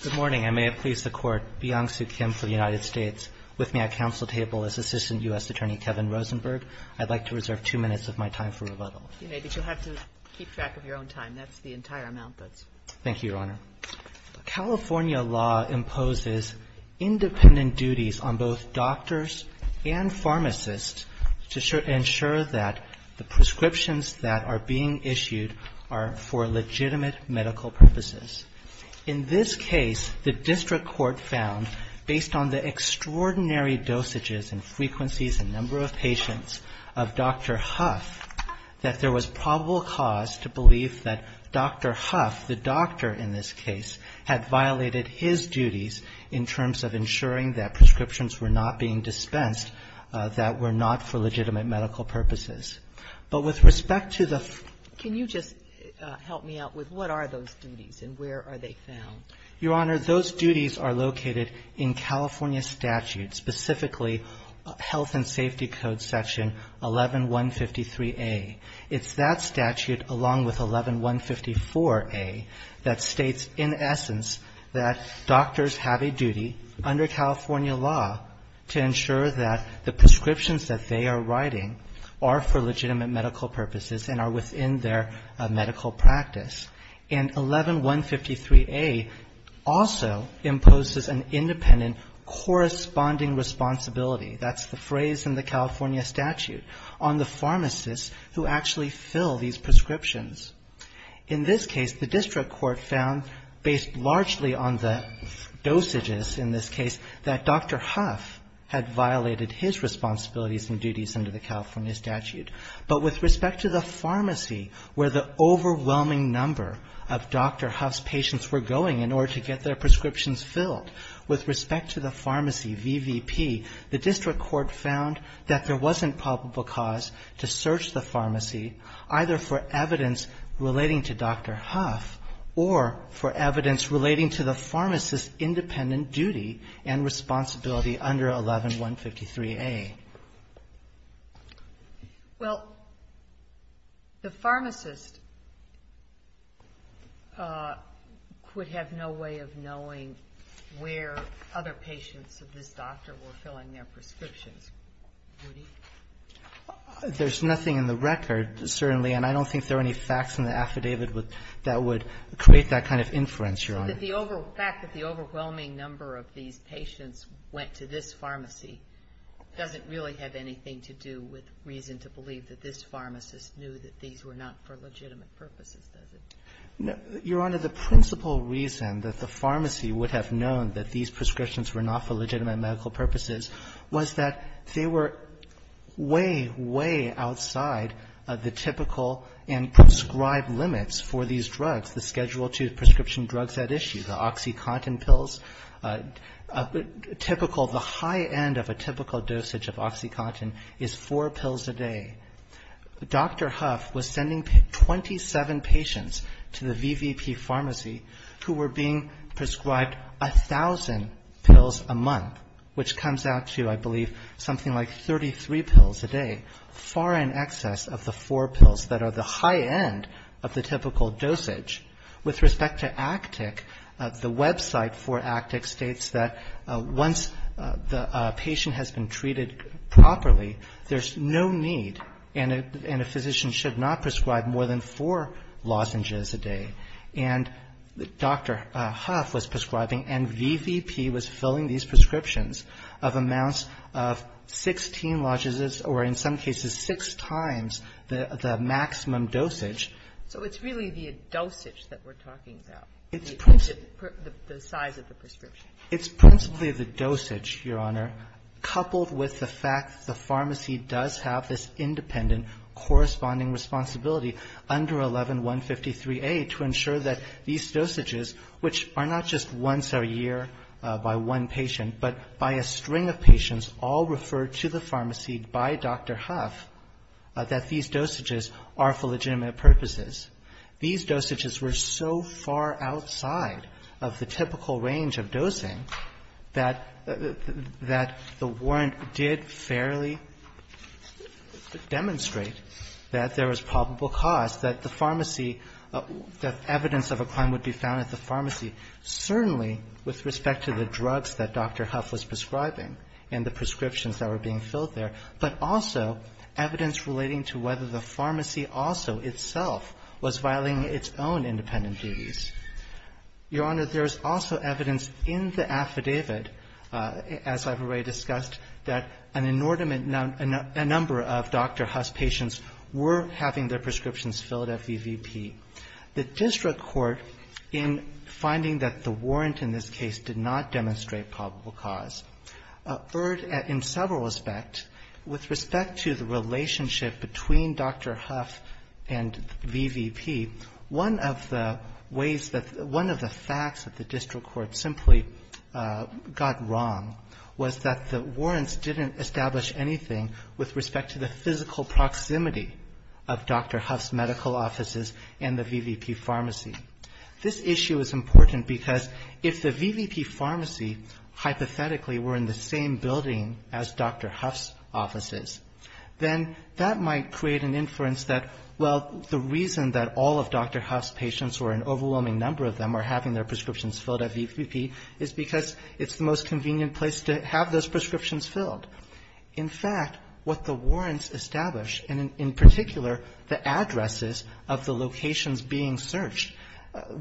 Good morning. I may have pleased the Court, Beyonce Kim for the United States, with me at counsel table is Assistant U.S. Attorney Kevin Rosenberg. I'd like to reserve two minutes of my time for rebuttal. You may, but you'll have to keep track of your own time. That's the entire amount. Thank you, Your Honor. California law imposes independent duties on both doctors and pharmacists to ensure that the prescriptions that are being issued are for legitimate medical purposes. In this case, the district court found, based on the extraordinary dosages and frequencies and number of patients of Dr. Huff, that there was probable cause to believe that Dr. Huff, the doctor in this case, had violated his duties in terms of ensuring that prescriptions were not being But with respect to the Can you just help me out with what are those duties and where are they found? Your Honor, those duties are located in California statute, specifically health and safety code section 11153a. It's that statute, along with 11154a, that states in essence that doctors have a duty under California law to ensure that the And 11153a also imposes an independent corresponding responsibility, that's the phrase in the California statute, on the pharmacists who actually fill these prescriptions. In this case, the district court found, based largely on the dosages in this case, that Dr. Huff had violated his But with respect to the pharmacy, where the overwhelming number of Dr. Huff's patients were going in order to get their prescriptions filled, with respect to the pharmacy, VVP, the district court found that there wasn't probable cause to search the pharmacy, either for evidence relating to Dr. Huff, or for evidence relating to the pharmacist's independent duty and responsibility under 11153a. Well, the pharmacist would have no way of knowing where other patients of this doctor were filling their prescriptions, would he? There's nothing in the record, certainly, and I don't think there are any facts in the affidavit that would The fact that the overwhelming number of these patients went to this pharmacy doesn't really have anything to do with reason to believe that this pharmacist knew that these were not for legitimate purposes, does it? Your Honor, the principal reason that the pharmacy would have known that these prescriptions were not for legitimate medical purposes was that they were way, way outside of the typical and prescribed limits for these drugs, the Schedule II prescription drugs at issue, the oxycontin pills. Typical, the high end of a typical dosage of oxycontin is four pills a day. Dr. Huff was sending 27 patients to the VVP pharmacy who were being prescribed 1,000 pills a month, which comes out to, I believe, something like 33 pills a day, far in excess of the four pills that are the high end of the typical dosage. With respect to Actic, the website for Actic states that once the patient has been treated properly, there's no need, and a physician should not prescribe more than four lozenges a day. And Dr. Huff was prescribing, and VVP was prescribing these prescriptions of amounts of 16 lozenges, or in some cases six times the maximum dosage. So it's really the dosage that we're talking about, the size of the prescription. It's principally the dosage, Your Honor, coupled with the fact that the pharmacy does have this independent corresponding responsibility under 11-153A to ensure that these dosages, which are not just once a year by one patient, but by a string of patients all referred to the pharmacy by Dr. Huff, that these dosages are for legitimate purposes. These dosages were so far outside of the typical range of dosing that the warrant did fairly demonstrate that there was probable cause, that the pharmacy the evidence of a crime would be found at the pharmacy, certainly with respect to the drugs that Dr. Huff was prescribing and the prescriptions that were being filled there, but also evidence relating to whether the pharmacy also itself was violating its own independent duties. Your Honor, there is also evidence in the affidavit, as I've already discussed, that an inordinate number of Dr. Huff's patients were having their prescriptions filled at VVP. The district court, in finding that the warrant in this case did not demonstrate probable cause, erred in several respects. With respect to the relationship between Dr. Huff and VVP, one of the ways that one of the facts that the district court simply got wrong was that the warrants didn't establish anything with respect to the physical proximity of Dr. Huff's medical offices and the VVP pharmacy. This issue is important because if the VVP pharmacy hypothetically were in the same building as Dr. Huff's offices, then that might create an inference that, well, the reason that all of Dr. Huff's patients or an overwhelming number of them are having their prescriptions filled at VVP is because it's the most convenient place to have those prescriptions filled. In fact, what the warrants establish, and in particular, the addresses of the locations being searched,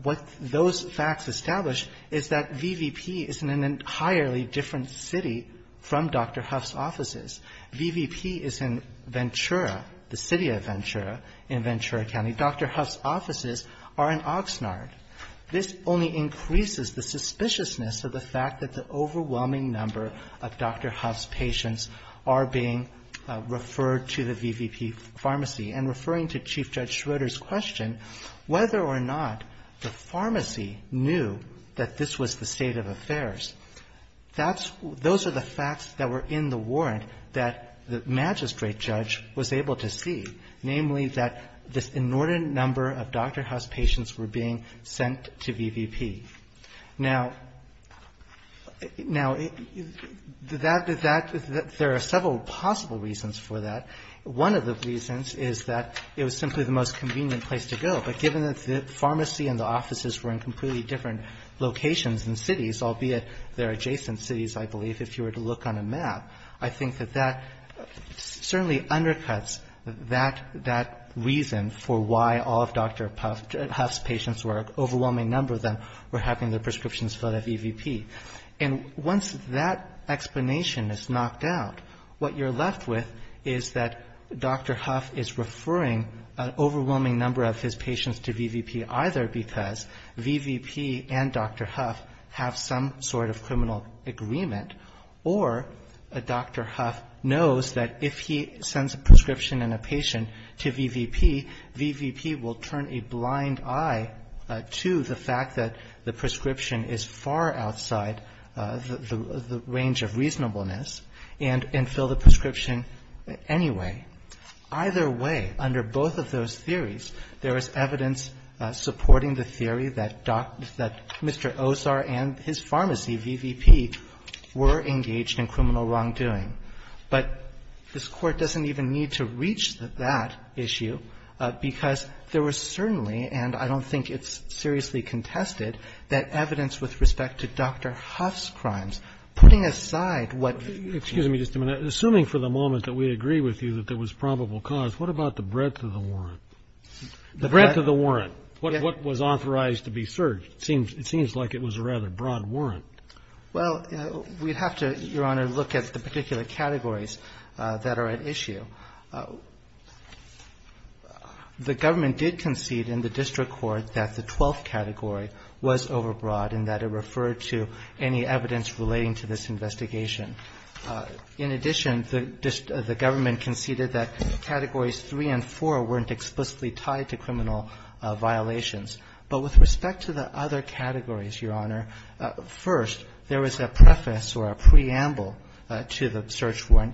what those facts establish is that VVP is in an entirely different city from Dr. Huff's offices. VVP is in Ventura, the city of Ventura, in Ventura County. Dr. Huff's offices are in Oxnard. This only increases the suspiciousness of the fact that the overwhelming number of Dr. Huff's patients are being referred to the VVP pharmacy. And referring to Chief Judge Schroeder's question, whether or not the pharmacy knew that this was the state of affairs, those are the facts that were in the warrant that the magistrate judge was able to see, namely that this inordinate number of Dr. Huff's patients were being sent to VVP. Now, there are several possible reasons for that. One of the reasons is that it was simply the most convenient place to go. But given that the pharmacy and the offices were in completely different locations and cities, albeit they're adjacent cities, I believe, if you were to look on a map, I think that that certainly undercuts that reason for why all of Dr. Huff's patients, or an overwhelming number of them, were having their prescriptions filled at VVP. And once that explanation is knocked out, what you're left with is that Dr. Huff is referring an overwhelming number of his patients to VVP, either because VVP and Dr. Huff have some sort of criminal agreement, or Dr. Huff knows that if he sends a prescription in a patient to VVP, VVP will turn a blind eye to the fact that the prescription is far outside the range of reasonableness and fill the prescription anyway. Either way, under both of those theories, there is evidence supporting the theory that Dr. — that Mr. Osar and his pharmacy, VVP, were engaged in criminal wrongdoing. But this Court doesn't even need to reach that issue, because there was certainly — and I don't think it's seriously contested — that evidence with respect to Dr. Huff's crimes, putting aside what — Excuse me just a minute. Assuming for the moment that we agree with you that there was probable cause, what about the breadth of the warrant? The breadth of the warrant, what was authorized to be searched? It seems like it was a rather broad warrant. Well, we'd have to, Your Honor, look at the particular categories that are at issue. The government did concede in the district court that the twelfth category was overbroad and that it referred to any evidence relating to this investigation. In addition, the government conceded that Categories 3 and 4 weren't explicitly tied to criminal violations. But with respect to the other categories, Your Honor, first, there was a preface or a preamble to the search warrant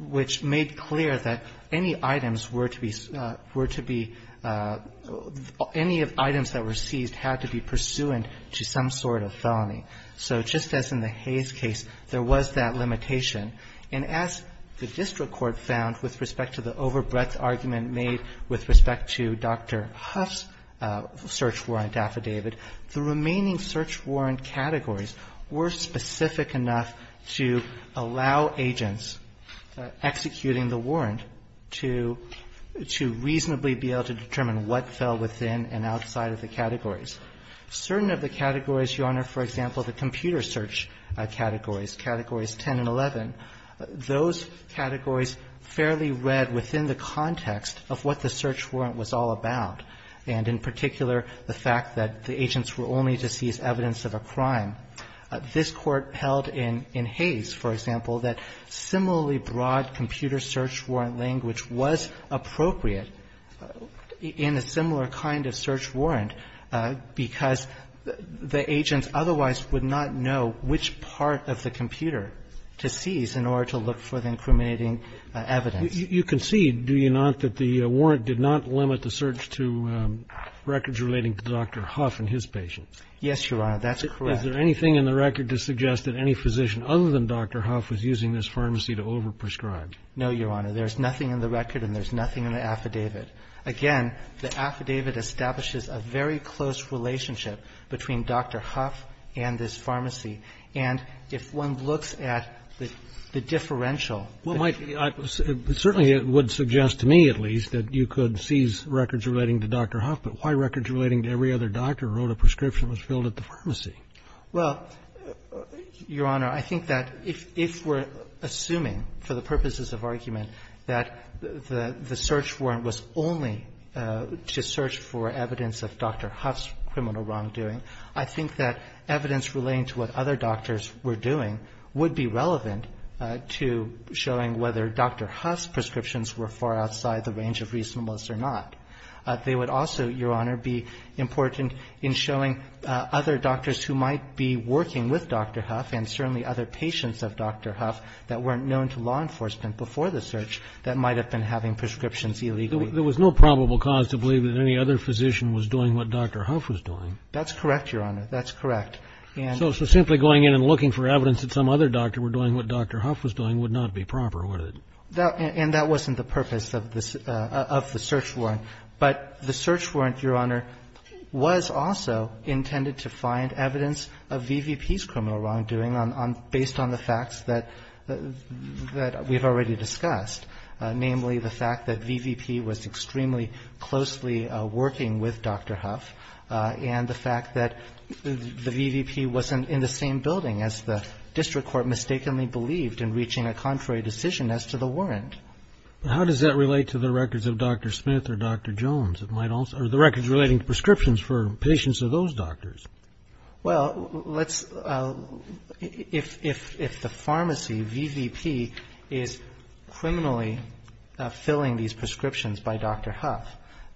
which made clear that any items were to be — were to be — any items that were seized had to be pursuant to some sort of felony. So just as in the Hayes case, there was that limitation. And as the district court found with respect to the overbreadth argument made with respect to Dr. Huff's search warrant affidavit, the remaining search warrant categories were specific enough to allow agents executing the warrant to — to reasonably be able to determine what fell within and outside of the categories. Certain of the categories, Your Honor, for example, the computer search categories, Categories 10 and 11, those categories fairly read within the context of what the search warrant was all about, and in particular, the fact that the agents were only to seize evidence of a crime. This Court held in — in Hayes, for example, that similarly broad computer search warrant language was appropriate in a similar kind of search warrant. And so, in this case, the search warrant did not limit the search to records relating to Dr. Huff and his patients. Yes, Your Honor, that's correct. Is there anything in the record to suggest that any physician other than Dr. Huff was using this pharmacy to overprescribe? No, Your Honor. There's nothing in the record and there's nothing in the affidavit. Again, the affidavit establishes a very close relationship between Dr. Huff and this pharmacy, and it looks at the differential. Well, my — certainly it would suggest to me, at least, that you could seize records relating to Dr. Huff, but why records relating to every other doctor who wrote a prescription was filled at the pharmacy? Well, Your Honor, I think that if we're assuming, for the purposes of argument, that the search warrant was only to search for evidence of Dr. Huff's criminal wrongdoing, I think that evidence relating to what other doctors were doing would be relevant to showing whether Dr. Huff's prescriptions were far outside the range of reasonableness or not. They would also, Your Honor, be important in showing other doctors who might be working with Dr. Huff and certainly other patients of Dr. Huff that weren't known to law enforcement before the search that might have been having prescriptions illegally. So there was no probable cause to believe that any other physician was doing what Dr. Huff was doing? That's correct, Your Honor. That's correct. And — So simply going in and looking for evidence that some other doctor were doing what Dr. Huff was doing would not be proper, would it? And that wasn't the purpose of the search warrant. But the search warrant, Your Honor, was also intended to find evidence of VVP's criminal wrongdoing on — based on the facts that we've already discussed, namely the fact that VVP was extremely closely working with Dr. Huff and the fact that the VVP was in the same building as the district court mistakenly believed in reaching a contrary decision as to the warrant. How does that relate to the records of Dr. Smith or Dr. Jones? It might also — or the records relating to prescriptions for patients of those doctors? Well, let's — if the pharmacy, VVP, is criminally filling these prescriptions by Dr. Huff,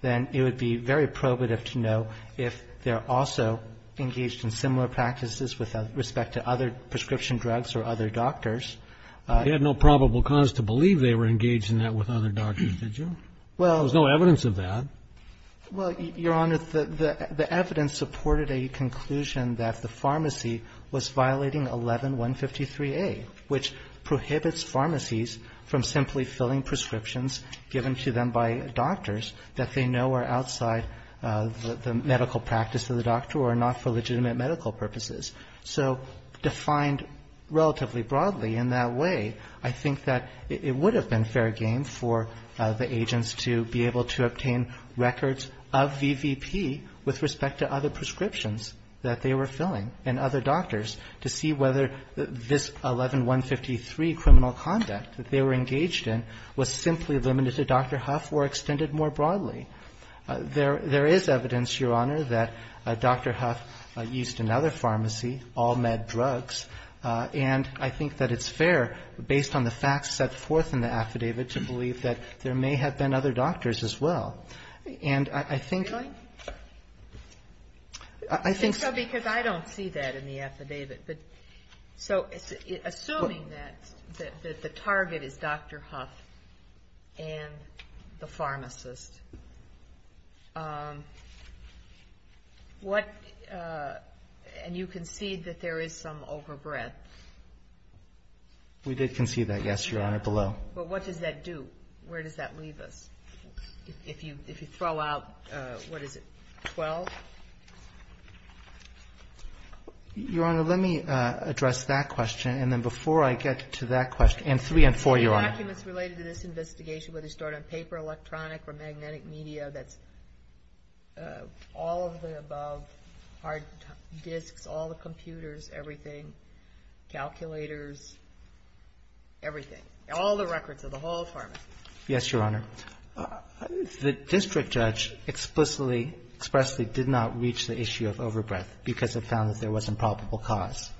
then it would be very probative to know if they're also engaged in similar practices with respect to other prescription drugs or other doctors. They had no probable cause to believe they were engaged in that with other doctors, did you? Well — There was no evidence of that. Well, Your Honor, the evidence supported a conclusion that the pharmacy was violating 11-153A, which prohibits pharmacies from simply filling prescriptions given to them by doctors that they know are outside the medical practice of the doctor or are not for legitimate medical purposes. So defined relatively broadly in that way, I think that it would have been fair game for the agents to be able to obtain records of VVP with respect to other prescriptions that they were filling and other doctors to see whether this 11-153 criminal conduct that they were engaged in was simply limited to Dr. Huff or extended more broadly. There is evidence, Your Honor, that Dr. Huff used another pharmacy, all-med drugs, and I think that it's fair, based on the facts set forth in the affidavit, to believe that there may have been other doctors as well. And I think — I think so because I don't see that in the affidavit. So assuming that the target is Dr. Huff and the pharmacist, what — and you can see that there is some overbreadth. We did concede that, yes, Your Honor, below. But what does that do? Where does that leave us? If you throw out, what is it, 12? Your Honor, let me address that question. And then before I get to that question — and three and four, Your Honor. that's all of the above, hard disks, all the computers, everything, calculators, everything. All the records of the whole pharmacy. Yes, Your Honor. The district judge explicitly, expressly did not reach the issue of overbreadth because it found that there was improbable cause.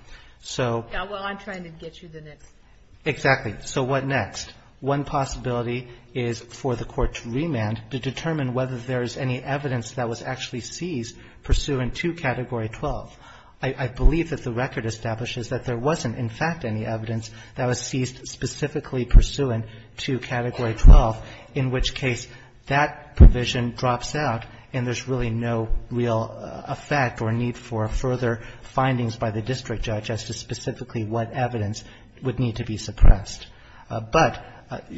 So — Yeah, well, I'm trying to get you the next — Exactly. So what next? One possibility is for the court to remand to determine whether there's any evidence that was actually seized pursuant to Category 12. I believe that the record establishes that there wasn't, in fact, any evidence that was seized specifically pursuant to Category 12, in which case that provision drops out and there's really no real effect or need for further findings by the district But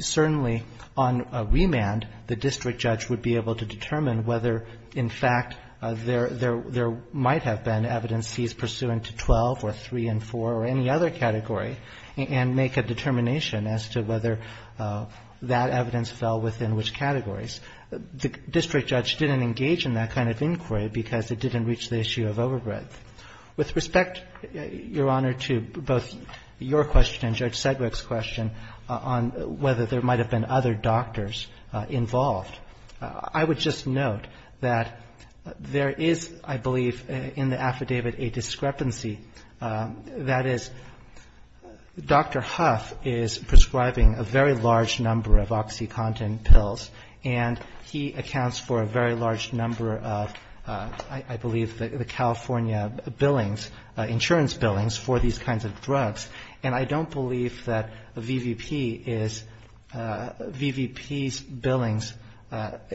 certainly on remand, the district judge would be able to determine whether, in fact, there might have been evidence seized pursuant to 12 or 3 and 4 or any other category and make a determination as to whether that evidence fell within which categories. The district judge didn't engage in that kind of inquiry because it didn't reach the issue of overbreadth. With respect, Your Honor, to both your question and Judge Sedgwick's question on whether there might have been other doctors involved, I would just note that there is, I believe, in the affidavit a discrepancy. That is, Dr. Huff is prescribing a very large number of oxycontin pills, and he accounts for a very large number of, I believe, the California billings, insurance billings, for these kinds of drugs. And I don't believe that VVP is VVP's billings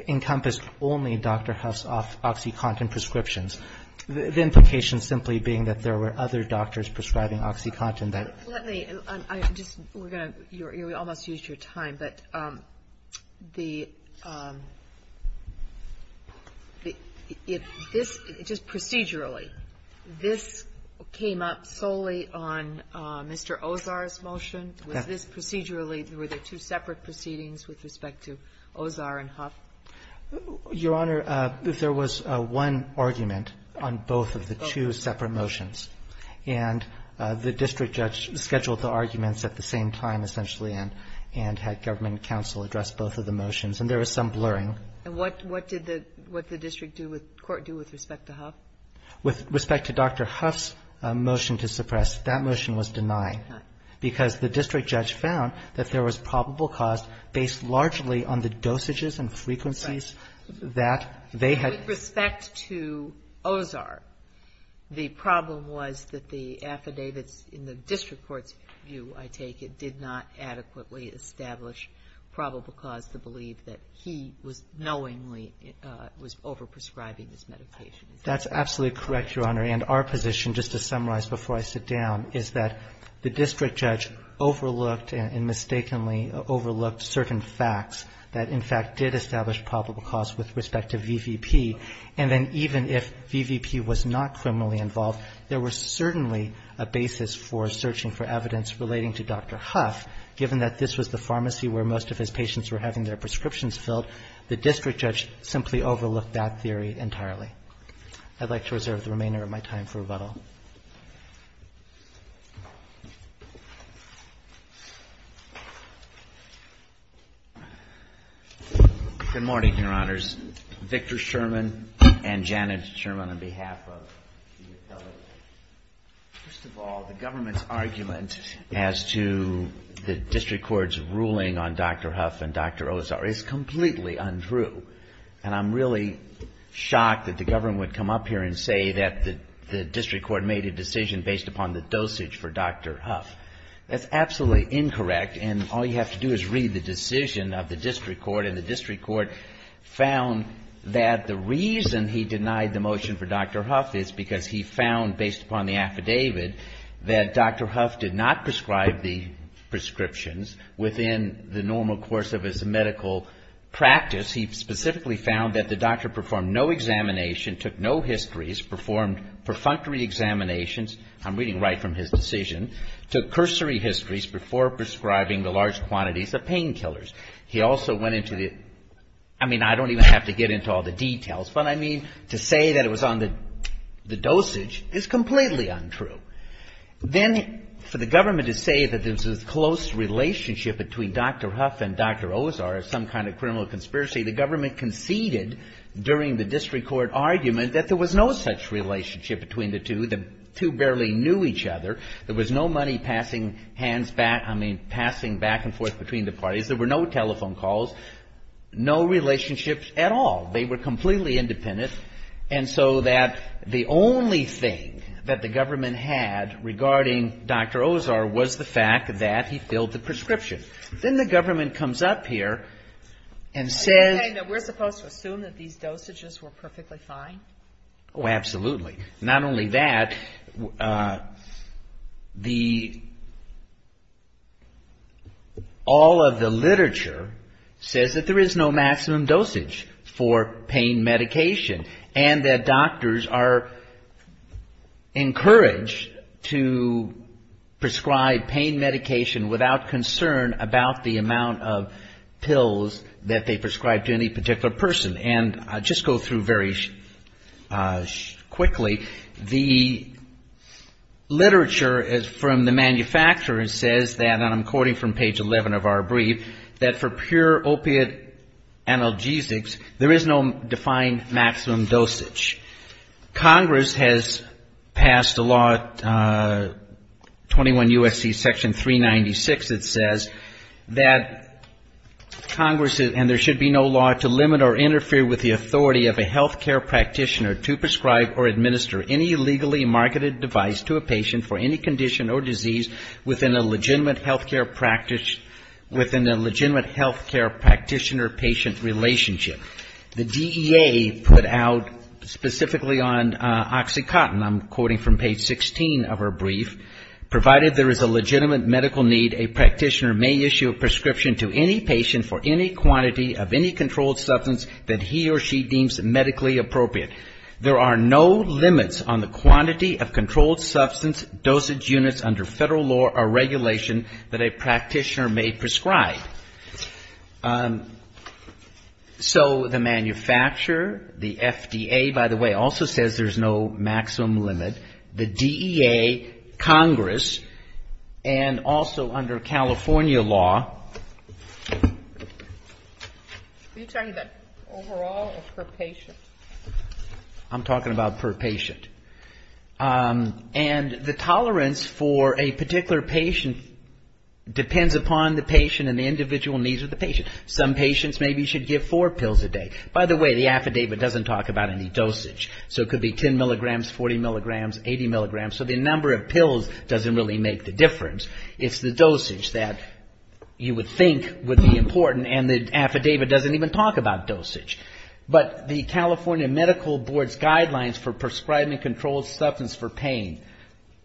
encompassed only Dr. Huff's oxycontin prescriptions, the implication simply being that there were other doctors prescribing oxycontin that ---- Kagan. Let me, I just, we're going to, we almost used your time, but the, if this, just procedurally, this came up solely on Mr. Ozar's motion, was this procedurally, were there two separate proceedings with respect to Ozar and Huff? Your Honor, there was one argument on both of the two separate motions. And the district judge scheduled the arguments at the same time, essentially, and had government counsel address both of the motions. And there was some blurring. And what did the, what did the district do with, court do with respect to Huff? With respect to Dr. Huff's motion to suppress, that motion was denied. Because the district judge found that there was probable cause based largely on the dosages and frequencies that they had ---- With respect to Ozar, the problem was that the affidavits in the district court's view, I take it, did not adequately establish probable cause to believe that he was knowingly, was overprescribing his medication. That's absolutely correct, Your Honor. And our position, just to summarize before I sit down, is that the district judge overlooked and mistakenly overlooked certain facts that, in fact, did establish probable cause with respect to VVP. And then even if VVP was not criminally involved, there was certainly a basis for searching for evidence relating to Dr. Huff, given that this was the pharmacy where most of his patients were having their prescriptions filled. The district judge simply overlooked that theory entirely. I'd like to reserve the remainder of my time for rebuttal. Good morning, Your Honors. Victor Sherman and Janet Sherman on behalf of the appellate. First of all, the government's argument as to the district court's ruling on Dr. Huff and Dr. Ozar is completely untrue. And I'm really shocked that the government would come up here and say that the district court made a decision based upon the dosage for Dr. Huff. That's absolutely incorrect. And all you have to do is read the decision of the district court. And the district court found that the reason he denied the motion for Dr. Huff is because he found, based upon the affidavit, that Dr. Huff did not prescribe the prescriptions within the normal course of his medical practice. He specifically found that the doctor performed no examination, took no histories, performed perfunctory examinations, I'm reading right from his decision, took cursory histories before prescribing the large quantities of painkillers. He also went into the, I mean, I don't even have to get into all the details, but I mean, to say that it was on the dosage is completely untrue. Then, for the government to say that there's this close relationship between Dr. Huff and Dr. Ozar, some kind of criminal conspiracy, the government conceded during the district court argument that there was no such relationship between the two. The two barely knew each other. There was no money passing hands back, I mean, passing back and forth between the parties. There were no telephone calls, no relationships at all. They were completely independent. And so that the only thing that the government had regarding Dr. Ozar was the fact that he filled the prescription. Then the government comes up here and says... Are you saying that we're supposed to assume that these dosages were perfectly fine? Oh, absolutely. Not only that, the... all of the literature says that there is no maximum dosage for pain medication and that doctors are encouraged to prescribe pain medication without concern about the amount of pills that they prescribe to any particular person. And I'll just go through very quickly. The literature from the manufacturer says that, and I'm quoting from page 11 of our brief, that for pure opiate analgesics, there is no defined maximum dosage. Congress has passed a law, 21 U.S.C. section 396, it says, that Congress, and there should be no law to limit or interfere with the authority of a healthcare practitioner to prescribe or administer any legally marketed device to a patient for any condition or disease within a legitimate healthcare practitioner-patient relationship. The DEA put out, specifically on OxyContin, I'm quoting from page 16 of our brief, provided there is a legitimate medical need, a practitioner may issue a prescription to any patient for any quantity of any controlled substance that he or she deems medically appropriate. There are no limits on the quantity of controlled substance dosage units under federal law or regulation that a practitioner may prescribe. So the manufacturer, the FDA, by the way, also says there's no maximum limit. The DEA, Congress, and also under California law... Are you talking about overall or per patient? I'm talking about per patient. And the tolerance for a particular patient depends upon the patient and the individual needs of the patient. Some patients maybe should give four pills a day. By the way, the affidavit doesn't talk about any dosage. So it could be 10 milligrams, 40 milligrams, 80 milligrams. So the number of pills doesn't really make the difference. It's the dosage that you would think would be important and the affidavit doesn't even talk about dosage. But the California Medical Board's guidelines for prescribing controlled substance for pain,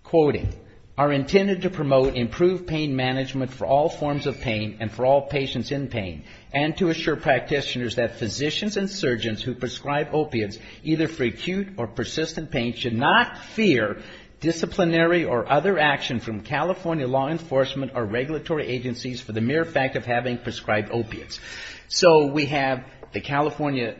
quoting, are intended to promote improved pain management for all forms of pain and for all patients in pain and to assure practitioners that physicians and surgeons who prescribe opiates, either for acute or persistent pain, should not fear disciplinary or other action from California law enforcement or regulatory agencies for the mere fact of having prescribed opiates. So we have the California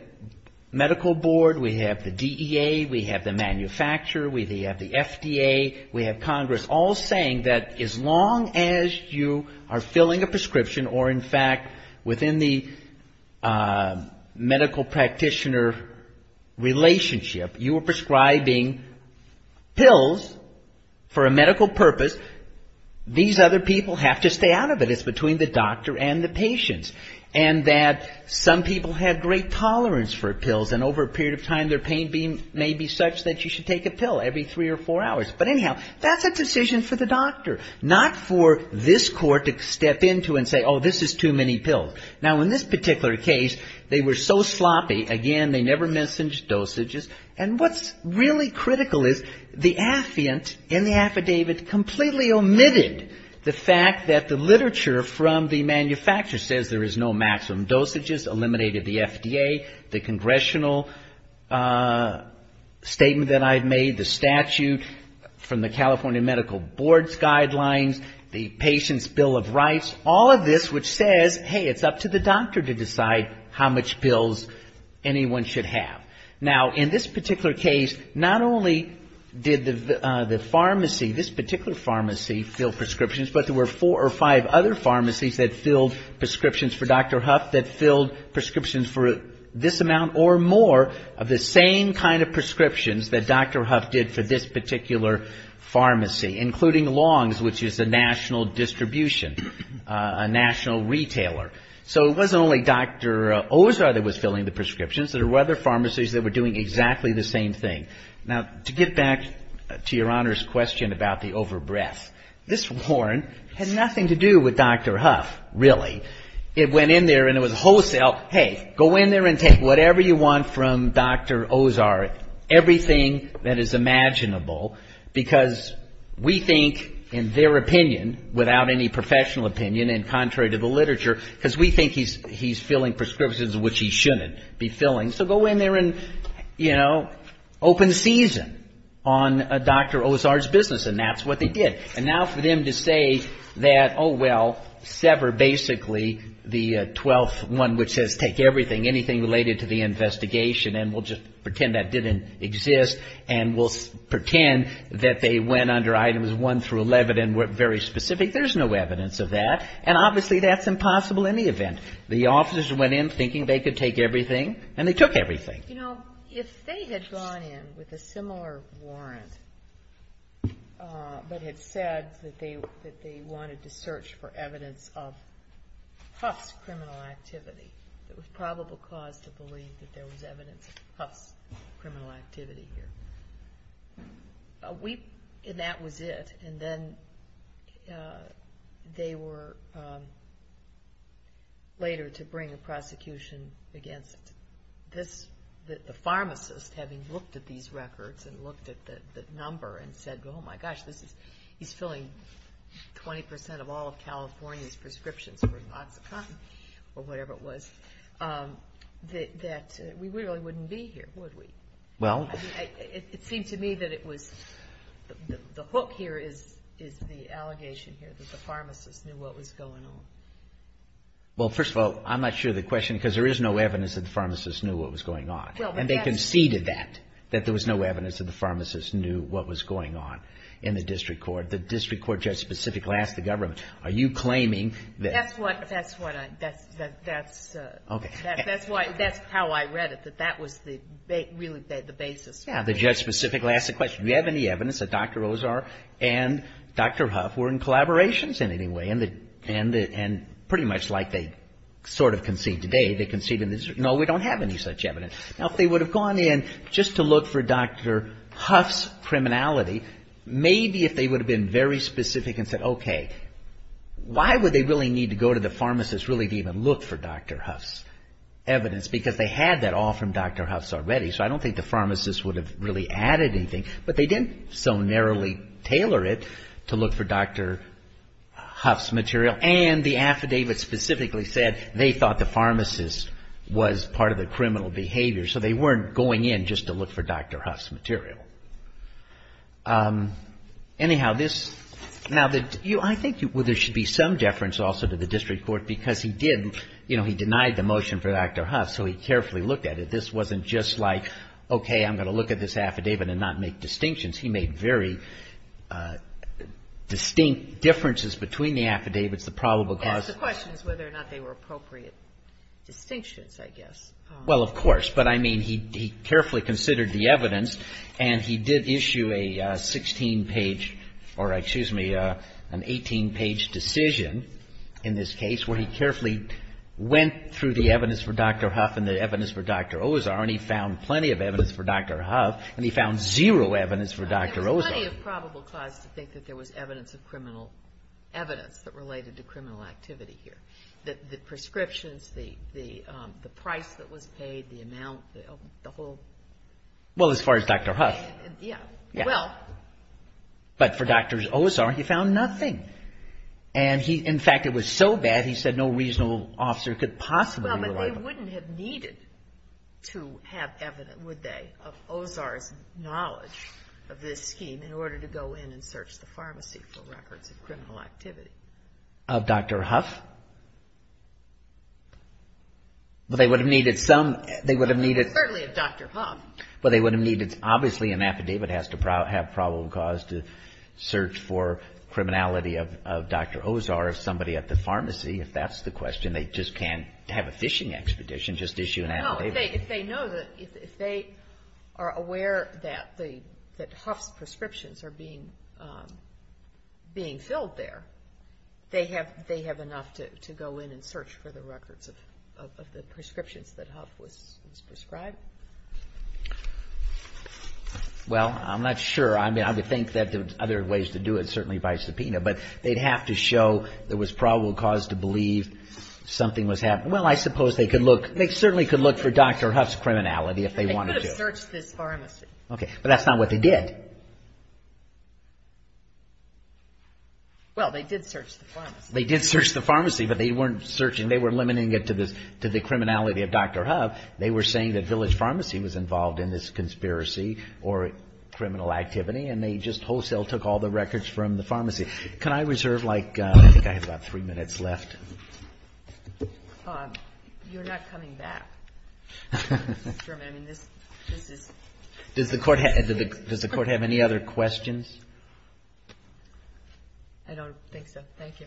Medical Board, we have the DEA, we have the manufacturer, we have the FDA, we have Congress, all saying that as long as you are filling a prescription or in fact within the medical practitioner relationship, you are prescribing pills for a medical purpose, these other people have to stay out of it. It's between the doctor and the patients. And that some people have great tolerance for pills and over a period of time, their pain may be such that you should take a pill every three or four hours. But anyhow, that's a decision for the doctor, not for this court to step into and say, oh, this is too many pills. Now, in this particular case, they were so sloppy, again, they never mentioned dosages. And what's really critical is the affiant in the affidavit completely omitted the fact that the literature from the manufacturer says there is no maximum dosages, eliminated the FDA, the congressional statement that I've made, the statute from the California Medical Board's guidelines, the patient's bill of rights, all of this which says, hey, it's up to the doctor to decide how much pills anyone should have. Now, in this particular case, not only did the pharmacy, this particular pharmacy fill prescriptions, but there were four or five other pharmacies that filled prescriptions for Dr. Huff, that filled prescriptions for this amount or more of the same kind of prescriptions that Dr. Huff did for this particular pharmacy, including Long's, which is a national distribution, a national retailer. So it wasn't only Dr. Ozar that was filling the prescriptions. There were other pharmacies that were doing exactly the same thing. Now, to get back to Your Honor's question about the overbreath. This warrant had nothing to do with Dr. Huff, really. It went in there and it was wholesale, hey, go in there and take whatever you want from Dr. Ozar, everything that is imaginable, because we think, in their opinion, without any professional opinion, and contrary to the literature, because we think he's filling prescriptions which he shouldn't be filling. So go in there and, you know, open season on Dr. Ozar's business, and that's what they did. And now for them to say that, oh, well, sever basically the 12th one, which says take everything, anything related to the investigation, and we'll just pretend that didn't exist, and we'll pretend that they went under items 1 through 11 and were very specific. There's no evidence of that. And obviously, that's impossible in the event. The officers went in thinking they could take everything, and they took everything. You know, if they had gone in with a similar warrant, but had said that they wanted to search for evidence of Huff's criminal activity, it was probable cause to believe that there was evidence of Huff's criminal activity here. We, and that was it, and then they were later to bring a prosecution against it. This, the pharmacist having looked at these records and looked at the number and said, oh, my gosh, this is, he's filling 20% of all of California's prescriptions for noxicantin, or whatever it was, that we really wouldn't be here, would we? Well, it seemed to me that it was, the hook here is the allegation here that the pharmacist knew what was going on. Well, first of all, I'm not sure of the question, because there is no evidence that the pharmacist knew what was going on. And they conceded that, that there was no evidence that the pharmacist knew what was going on in the district court. The district court just specifically asked the government, are you claiming that? That's what I, that's how I read it, that that was really the basis. Yeah, the judge specifically asked the question, do you have any evidence that Dr. Ozar and Dr. Huff were in collaborations in any way? And pretty much like they sort of concede today, they concede in this, no, we don't have any such evidence. Now, if they would have gone in just to look for Dr. Huff's criminality, maybe if they would have been very specific and said, OK, why would they really need to go to the pharmacist really to even look for Dr. Huff's evidence? Because they had that all from Dr. Huff's already. So I don't think the pharmacist would have really added anything. But they didn't so narrowly tailor it to look for Dr. Huff's material. And the affidavit specifically said they thought the pharmacist was part of the criminal behavior. So they weren't going in just to look for Dr. Huff's material. Anyhow, this, now, I think there should be some deference also to the district court because he did, you know, he denied the motion for Dr. Huff. So he carefully looked at it. This wasn't just like, OK, I'm going to look at this affidavit and not make distinctions. He made very distinct differences between the affidavits. The probable cause of the question is whether or not they were appropriate distinctions, I guess. Well, of course. But I mean, he carefully considered the evidence and he did issue a 16 page or excuse me, an 18 page decision in this case where he carefully went through the evidence for Dr. Huff and the evidence for Dr. Ozar. And he found plenty of evidence for Dr. Huff and he found zero evidence for Dr. Ozar. There was plenty of probable cause to think that there was evidence of criminal evidence that related to criminal activity here. That the prescriptions, the price that was paid, the amount, the whole. Well, as far as Dr. Huff. Yeah, well. But for Dr. Ozar, he found nothing. And he, in fact, it was so bad, he said no reasonable officer could possibly. Well, but they wouldn't have needed to have evidence, would they, of Ozar's knowledge of this scheme in order to go in and search the pharmacy for records of criminal activity. Of Dr. Huff? But they would have needed some, they would have needed. Certainly of Dr. Huff. But they would have needed, obviously an affidavit has to have probable cause to search for criminality of Dr. Ozar or somebody at the pharmacy. If that's the question, they just can't have a phishing expedition, just issue an affidavit. No, if they know that, if they are aware that Huff's prescriptions are being filled there, they have enough to go in and search for the records of the prescriptions that Huff was prescribed. Well, I'm not sure. I mean, I would think that there's other ways to do it, certainly by subpoena. But they'd have to show there was probable cause to believe something was happening. Well, I suppose they could look, they certainly could look for Dr. Huff's criminality if they wanted to. They could have searched this pharmacy. Okay, but that's not what they did. Well, they did search the pharmacy. They did search the pharmacy, but they weren't searching, they were limiting it to the criminality of Dr. Huff. They were saying that Village Pharmacy was involved in this conspiracy or criminal activity, and they just wholesale took all the records from the pharmacy. Can I reserve, like, I think I have about three minutes left. You're not coming back, Mr. Chairman. I mean, this is... Does the Court have any other questions? I don't think so. Thank you.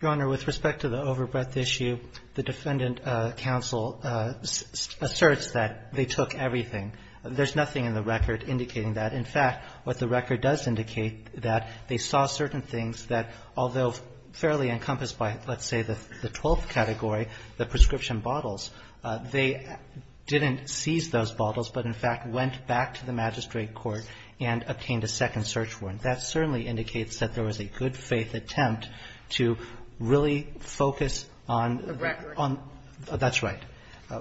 Your Honor, with respect to the overbreadth issue, the Defendant Counsel asserts that they took everything. There's nothing in the record indicating that. In fact, what the record does indicate that they saw certain things that, although fairly encompassed by, let's say, the twelfth category, the prescription bottles, they didn't seize those bottles, but in fact went back to the magistrate court and obtained a second search warrant. That certainly indicates that there was a good-faith attempt to really focus on... The record. That's right.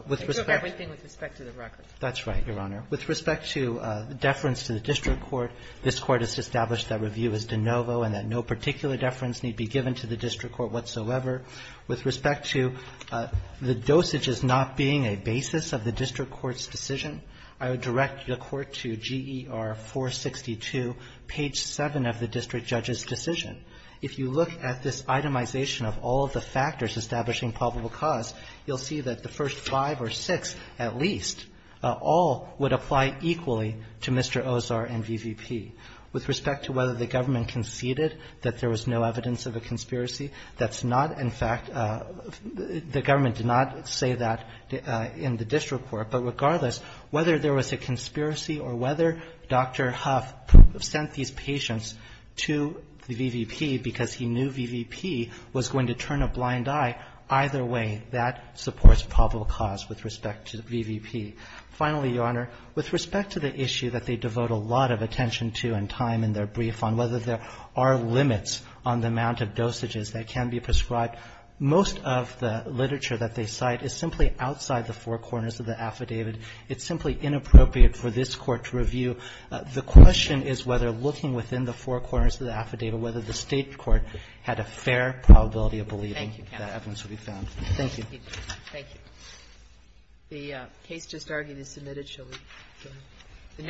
They took everything with respect to the record. That's right, Your Honor. With respect to the deference to the district court, this Court has established that review is de novo and that no particular deference need be given to the district court whatsoever. With respect to the dosages not being a basis of the district court's decision, I would direct the Court to GER 462, page 7 of the district judge's decision. If you look at this itemization of all of the factors establishing probable cause, you'll see that the first five or six, at least, all would apply equally to Mr. Ozar and VVP. With respect to whether the government conceded that there was no evidence of a conspiracy, that's not. In fact, the government did not say that in the district court. But regardless, whether there was a conspiracy or whether Dr. Huff sent these patients to VVP because he knew VVP was going to turn a blind eye, either way, that supports probable cause with respect to VVP. Finally, Your Honor, with respect to the issue that they devote a lot of attention to and time in their brief on whether there are limits on the amount of dosages that can be prescribed, most of the literature that they cite is simply outside the four corners of the affidavit. It's simply inappropriate for this Court to review. The question is whether looking within the four corners of the affidavit, whether the State court had a fair probability of believing that evidence would be found. Thank you. Kagan. Thank you. The case just argued is submitted. Shall we?